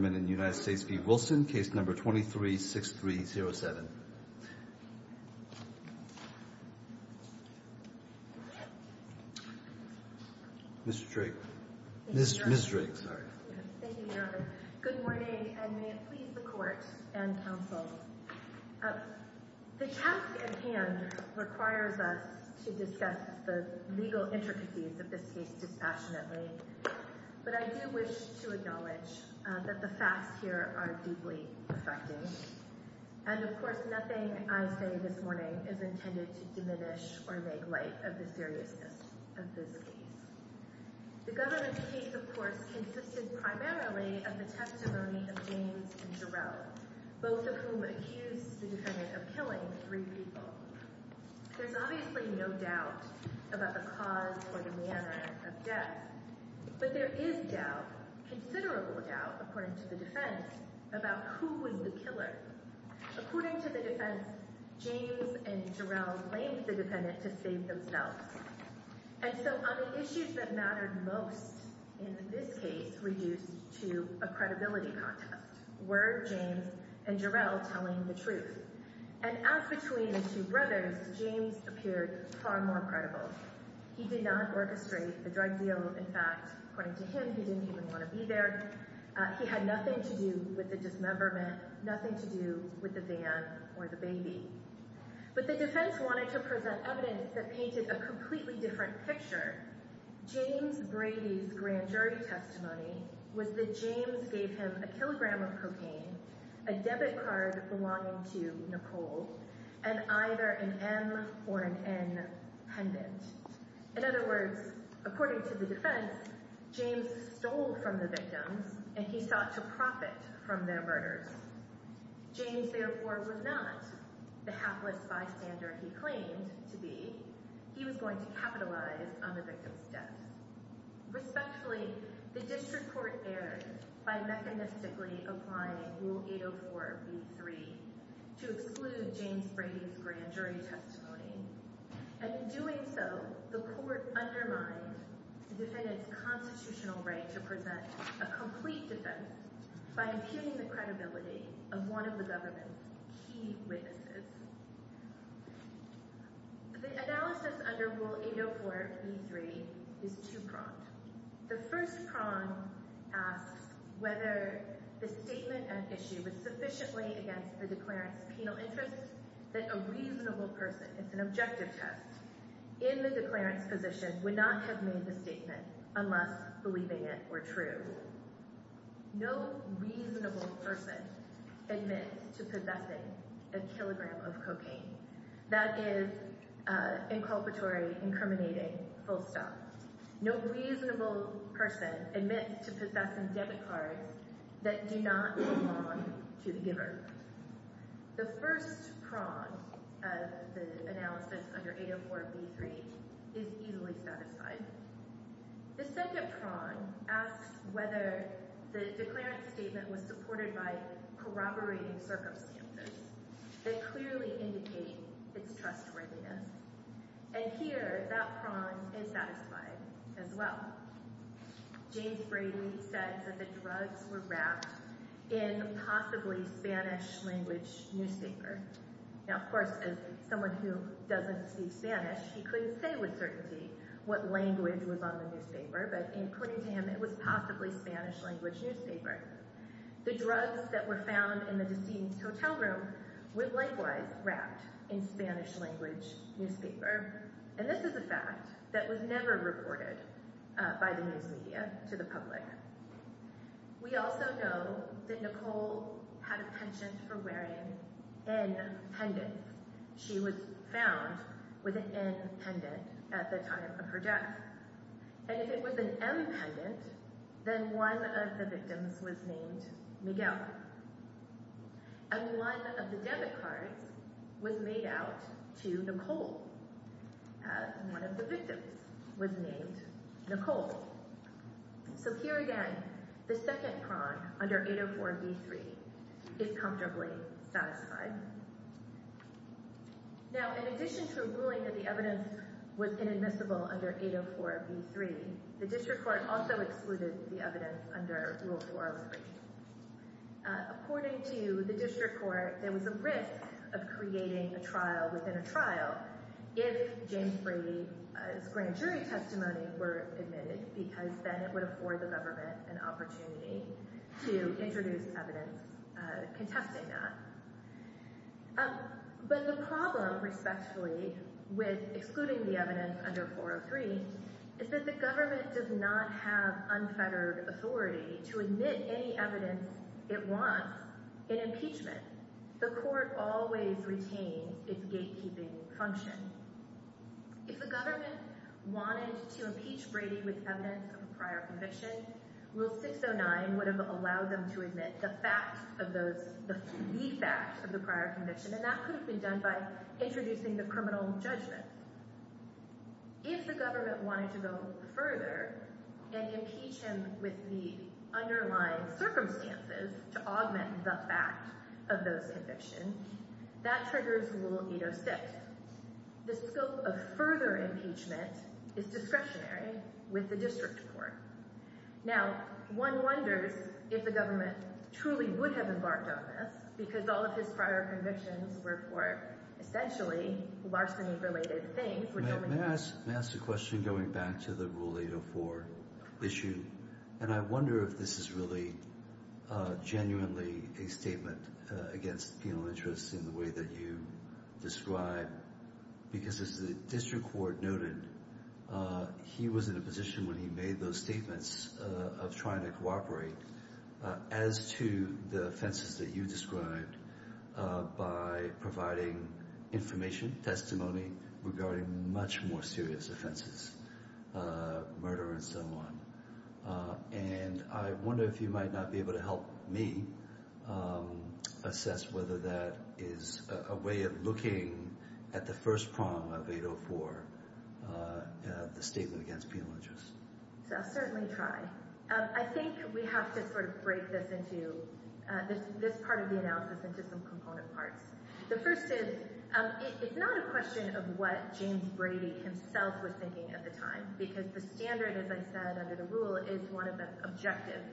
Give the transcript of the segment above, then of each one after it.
23-6307. Ms. Drake. Thank you, Your Honor. Good morning, and may it please the Court and counsel. The task at hand requires us to discuss the legal intricacies of this case dispassionately, but I do wish to acknowledge that the facts here are deeply affecting, and of course nothing I say this morning is intended to diminish or make light of the seriousness of this case. The government's case, of course, consisted primarily of the testimony of James and Jarrell, both of whom accused the defendant of killing three people. There's obviously no doubt about the cause or the manner of death, but there is doubt—considerable doubt, according to the defense—about who was the killer. According to the defense, James and Jarrell blamed the defendant to save themselves. And so on the issues that mattered most in this case reduced to a credibility contest. Were James and Jarrell telling the truth? And as between the two brothers, James appeared far more credible. He did not orchestrate the drug deal. In fact, according to him, he didn't even want to be there. He had nothing to do with the dismemberment, nothing to do with the van or the baby. But the defense wanted to present evidence that painted a completely different picture. James Brady's grand jury testimony was that James gave him a kilogram of cocaine, a debit card belonging to Nicole, and either an M or an N pendant. In other words, according to the defense, James stole from the victims, and he sought to profit from their murders. James, therefore, was not the hapless bystander he claimed to be. He was going to capitalize on the victims' deaths. Respectfully, the district court erred by mechanistically applying Rule 804b3 to exclude James Brady's grand jury testimony. And in doing so, the court undermined the defendant's constitutional right to present a complete defense by impugning the credibility of one of the government's key witnesses. The analysis under Rule 804b3 is two-pronged. The first prong asks whether the statement at issue was sufficiently against the declarant's penal interest that a reasonable person—it's an objective test—in the declarant's position would not have made the statement unless believing it were true. No reasonable person admits to possessing a kilogram of cocaine. That is inculpatory, incriminating, full stop. No reasonable person admits to possessing debit cards that do not belong to the giver. The first prong of the analysis under 804b3 is easily satisfied. The second prong asks whether the declarant's statement was supported by corroborating circumstances that clearly indicate its trustworthiness. And here, that prong is satisfied as well. James Brady said that the drugs were wrapped in a possibly Spanish-language newspaper. Now, of course, as someone who doesn't speak Spanish, he couldn't say with certainty what language was on the newspaper, but in putting to him, it was possibly Spanish-language newspaper. The drugs that were found in the deceased's hotel room were likewise wrapped in Spanish-language newspaper, and this is a fact that was never reported by the news media to the public. We also know that Nicole had a penchant for wearing N pendants. She was found with an N pendant at the time of her death. And if it was an M pendant, then one of the victims was named Miguel. And one of the debit cards was made out to Nicole, as one of the victims was named Nicole. So here again, the second prong, under 804b3, is comfortably satisfied. Now, in addition to ruling that the evidence was inadmissible under 804b3, the District Court also excluded the evidence under Rule 403. According to the District Court, there was a risk of creating a trial within a trial if James Brady's grand jury testimony were admitted, because then it would afford the government an opportunity to introduce evidence contesting that. But the problem, respectfully, with excluding the evidence under 403 is that the government does not have unfettered authority to admit any evidence it wants in impeachment. The court always retains its gatekeeping function. If the government wanted to impeach Brady with evidence of a prior conviction, Rule 609 would have allowed them to admit the fact of the prior conviction, and that could have been done by introducing the criminal judgment. If the government wanted to go further and impeach him with the underlying circumstances to augment the fact of those convictions, that triggers Rule 806. The scope of further impeachment is discretionary with the District Court. Now, one wonders if the government truly would have embarked on this, because all of his prior convictions were for, essentially, larceny-related things. May I ask a question going back to the Rule 804 issue? And I wonder if this is really genuinely a statement against penal interests in the way that you describe, because as the District Court noted, he was in a position when he made those statements of trying to cooperate as to the offenses that you described by providing information, testimony regarding much more serious offenses, murder and so on. And I wonder if you might not be able to help me assess whether that is a way of looking at the first prong of 804, the statement against penal interests. I'll certainly try. I think we have to sort of break this into, this part of the analysis into some component parts. The first is, it's not a question of what James Brady himself was thinking at the time, because the standard, as I said, under the Rule is one of the objectives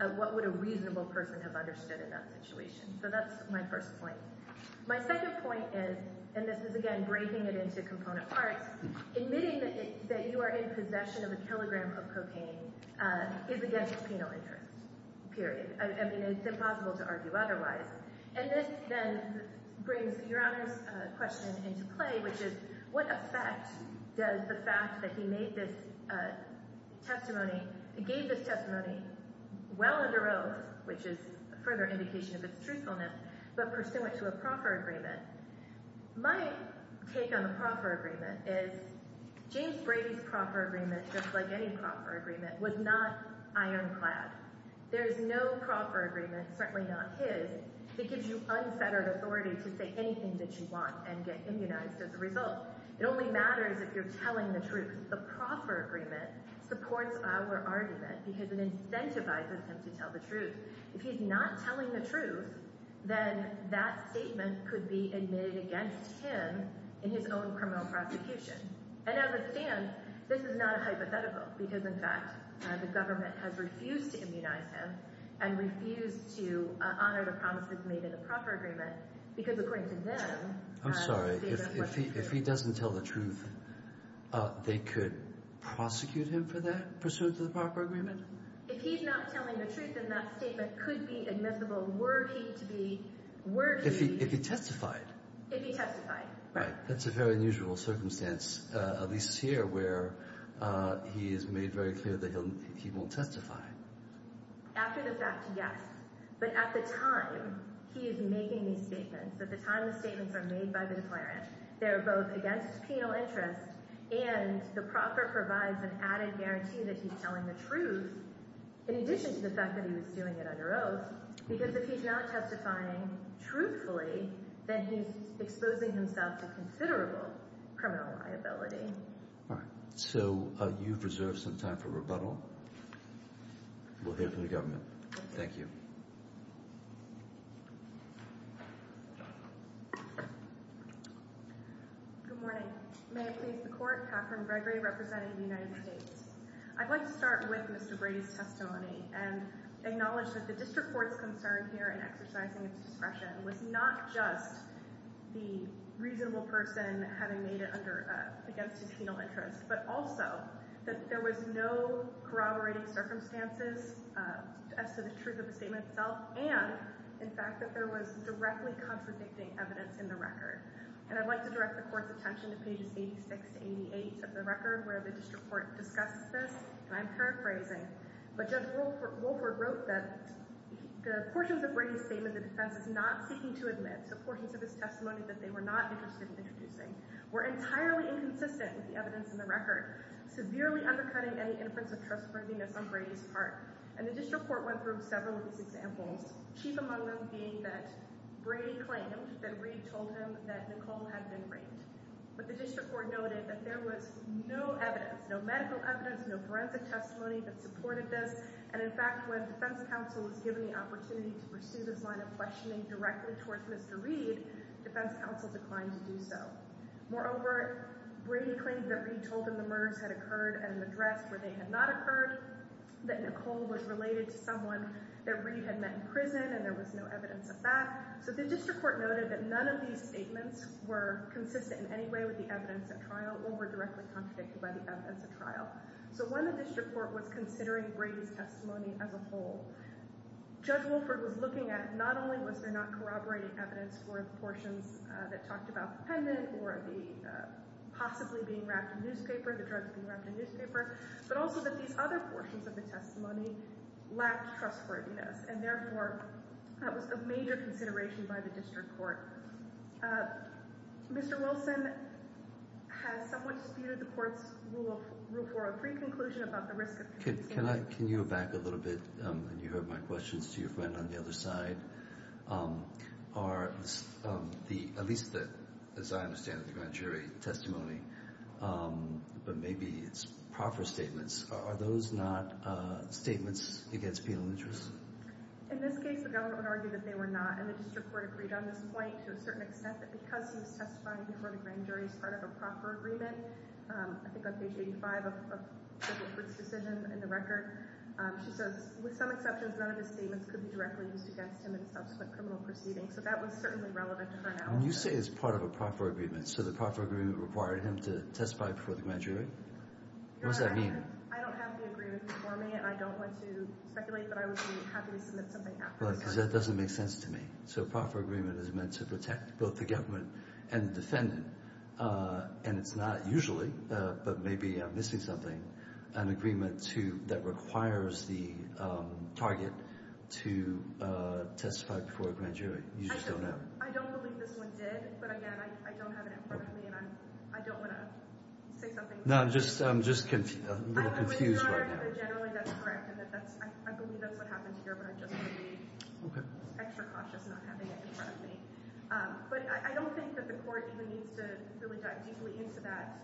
of what would a reasonable person have understood in that situation. So that's my first point. My second point is, and this is, again, breaking it into component parts, admitting that you are in possession of a kilogram of cocaine is against penal interests, period. I mean, it's impossible to argue otherwise. And this then brings Your Honor's question into play, which is, what effect does the fact that he made this testimony, gave this testimony, well under oath, which is a further indication of its truthfulness, but pursuant to a proffer agreement? My take on the proffer agreement is, James Brady's proffer agreement, just like any proffer agreement, was not ironclad. There is no proffer agreement, certainly not his, that gives you unfettered authority to say anything that you want and get immunized as a result. It only matters if you're telling the truth. The proffer agreement supports our argument because it incentivizes him to tell the truth. If he's not telling the truth, then that statement could be admitted against him in his own criminal prosecution. And as it stands, this is not a hypothetical because, in fact, the government has refused to immunize him and refused to honor the promises made in the proffer agreement because, according to them— I'm sorry. If he doesn't tell the truth, they could prosecute him for that, pursuant to the proffer agreement? If he's not telling the truth, then that statement could be admissible, were he to be— If he testified. If he testified, right. That's a very unusual circumstance, at least here, where he has made very clear that he won't testify. After the fact, yes. But at the time he is making these statements, at the time the statements are made by the declarant, they're both against penal interest and the proffer provides an added guarantee that he's telling the truth, in addition to the fact that he was doing it under oath, because if he's not testifying truthfully, then he's exposing himself to considerable criminal liability. All right. So, you've reserved some time for rebuttal. We'll hear from the government. Thank you. Good morning. May I please the Court? Katherine Gregory, Representative of the United States. I'd like to start with Mr. Brady's testimony and acknowledge that the district court's concern here in exercising its discretion was not just the reasonable person having made it under—against his penal interest, but also that there was no corroborating circumstances as to the truth of the statement itself and, in fact, that there was directly contradicting evidence in the record. And I'd like to direct the Court's attention to pages 86 to 88 of the record, where the and I'm paraphrasing, but Judge Wolford wrote that the portions of Brady's statement the defense is not seeking to admit, the portions of his testimony that they were not interested in introducing, were entirely inconsistent with the evidence in the record, severely undercutting any inference of trustworthiness on Brady's part. And the district court went through several of these examples, chief among them being that Brady claimed that Reed told him that Nicole had been raped. But the district court noted that there was no evidence, no medical evidence, no forensic testimony that supported this. And, in fact, when defense counsel was given the opportunity to pursue this line of questioning directly towards Mr. Reed, defense counsel declined to do so. Moreover, Brady claimed that Reed told him the murders had occurred at an address where they had not occurred, that Nicole was related to someone that Reed had met in prison, and there was no evidence of that. So the district court noted that none of these statements were consistent in any way with the evidence at trial or were directly contradicted by the evidence at trial. So when the district court was considering Brady's testimony as a whole, Judge Wolford was looking at not only was there not corroborating evidence for the portions that talked about the pendant or the possibly being wrapped in newspaper, the drugs being wrapped in newspaper, but also that these other portions of the testimony lacked trustworthiness. And, therefore, that was of major consideration by the district court. Mr. Wilson has somewhat disputed the court's rule for a pre-conclusion about the risk of Can you go back a little bit? You heard my questions to your friend on the other side. Are, at least as I understand it, the grand jury testimony, but maybe it's proper statements, are those not statements against penal interest? In this case, the government argued that they were not, and the district court agreed on this point to a certain extent that because he was testifying before the grand jury as part of a proper agreement, I think on page 85 of Judge Wolford's decision in the record, she says, with some exceptions, none of his statements could be directly used against him in subsequent criminal proceedings. So that was certainly relevant to her analysis. When you say as part of a proper agreement, so the proper agreement required him to testify before the grand jury? What does that mean? I don't have the agreement before me, and I don't want to speculate, but I would be happy to submit something afterwards. Because that doesn't make sense to me. So a proper agreement is meant to protect both the government and the defendant, and it's not usually, but maybe I'm missing something, an agreement that requires the target to testify before a grand jury. I don't believe this one did, but again, I don't have it in front of me, and I don't want to say something. No, I'm just a little confused right now. Generally, that's correct. I believe that's what happened here, but I'm just going to be extra cautious not having it in front of me. But I don't think that the Court even needs to really dive deeply into that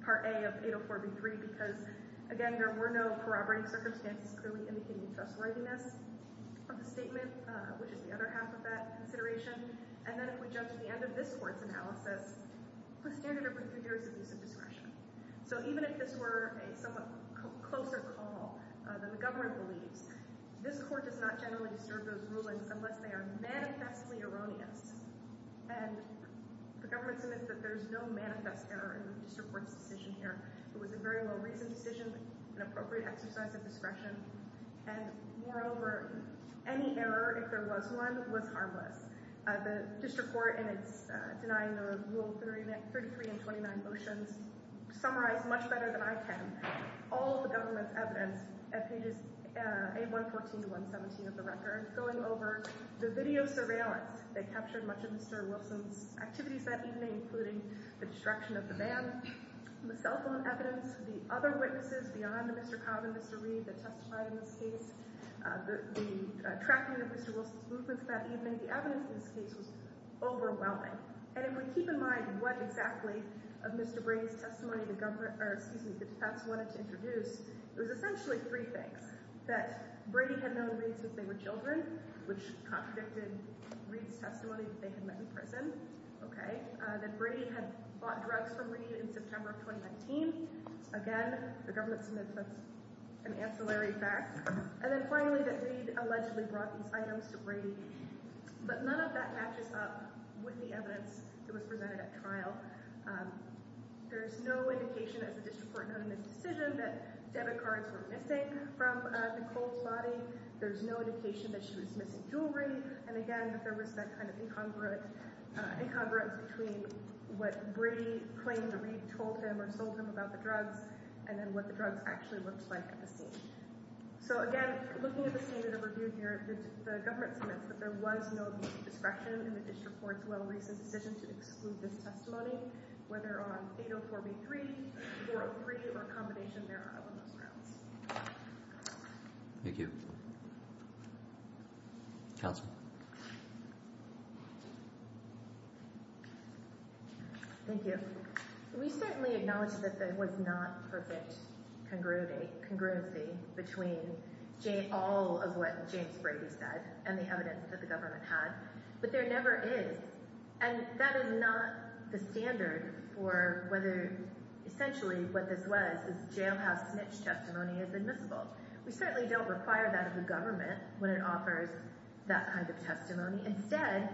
Part A of 804b3, because again, there were no corroborating circumstances clearly indicating trustworthiness of the statement, which is the other half of that consideration. And then if we jump to the end of this Court's analysis, the standard of procedure is abuse of discretion. So even if this were a somewhat closer call than the government believes, this Court does not generally disturb those rulings unless they are manifestly erroneous, and the government submits that there's no manifest error in the District Court's decision here. It was a very well-reasoned decision, an appropriate exercise of discretion, and moreover, any error, if there was one, was harmless. The District Court, in its denying of Rule 33 and 29 motions, summarized much better than I can all of the government's evidence at pages 814 to 117 of the record, going over the video surveillance that captured much of Mr. Wilson's activities that evening, including the destruction of the van, the cell phone evidence, the other witnesses beyond Mr. Cobb and Mr. Reed that testified in this case, the tracking of Mr. Wilson's movements that evening. The evidence in this case was overwhelming, and if we keep in mind what exactly of Mr. Brady's testimony the government, or excuse me, the defense wanted to introduce, it was essentially three things, that Brady had known Reed since they were children, which contradicted Reed's testimony that they had met in prison, okay, that Brady had bought drugs from Reed in September of 2019, again, the government submits that as an ancillary fact, and then But none of that matches up with the evidence that was presented at trial. There's no indication, as the District Court noted in its decision, that debit cards were missing from Nicole's body, there's no indication that she was missing jewelry, and again, that there was that kind of incongruence between what Brady claimed that Reed told him or told him about the drugs, and then what the drugs actually looked like at the scene. So again, looking at the standard of review here, the government submits that there was no abuse of discretion in the District Court's well-recent decision to exclude this testimony, whether on 804B3, 403, or a combination thereof on those grounds. Thank you. Counsel? Thank you. We certainly acknowledge that there was not perfect congruency between all of what James Brady said and the evidence that the government had, but there never is, and that is not the standard for whether essentially what this was, is jailhouse snitch testimony is admissible. We certainly don't require that of the government when it offers that kind of testimony. Instead,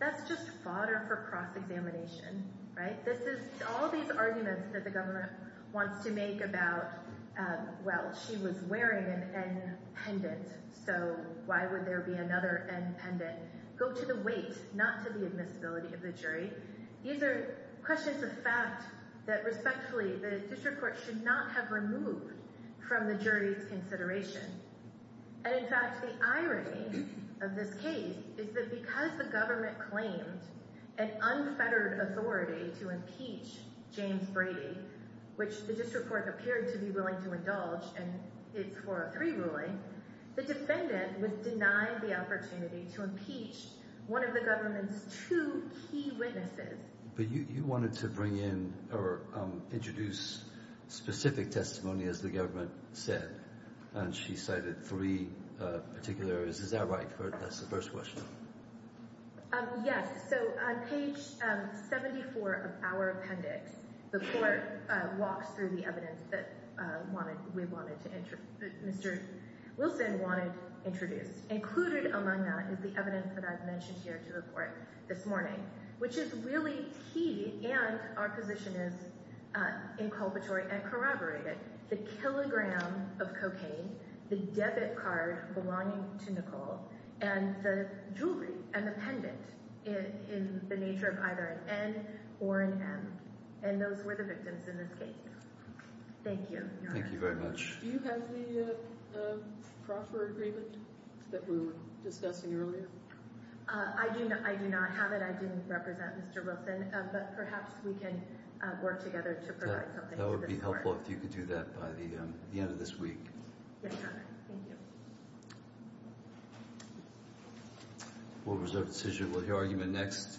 that's just fodder for cross-examination, right? All these arguments that the government wants to make about, well, she was wearing an N pendant, so why would there be another N pendant, go to the weight, not to the admissibility of the jury. These are questions of fact that, respectfully, the District Court should not have removed from the jury's consideration. And in fact, the irony of this case is that because the government claimed an unfettered authority to impeach James Brady, which the District Court appeared to be willing to indulge in its 403 ruling, the defendant was denied the opportunity to impeach one of the government's two key witnesses. But you wanted to bring in or introduce specific testimony, as the government said, and she cited three particular areas. Is that right? That's the first question. Yes. So on page 74 of our appendix, the Court walks through the evidence that Mr. Wilson wanted introduced. Included among that is the evidence that I've mentioned here to the Court this morning, which is really key, and our position is inculpatory and corroborated. The kilogram of cocaine, the debit card belonging to Nicole, and the jewelry and the pendant in the nature of either an N or an M. And those were the victims in this case. Thank you. Thank you very much. Do you have the proffer agreement that we were discussing earlier? I do not have it. I didn't represent Mr. Wilson, but perhaps we can work together to provide something to the Court. That would be helpful if you could do that by the end of this week. Yes, sir. Thank you. We'll reserve the decision of the argument next.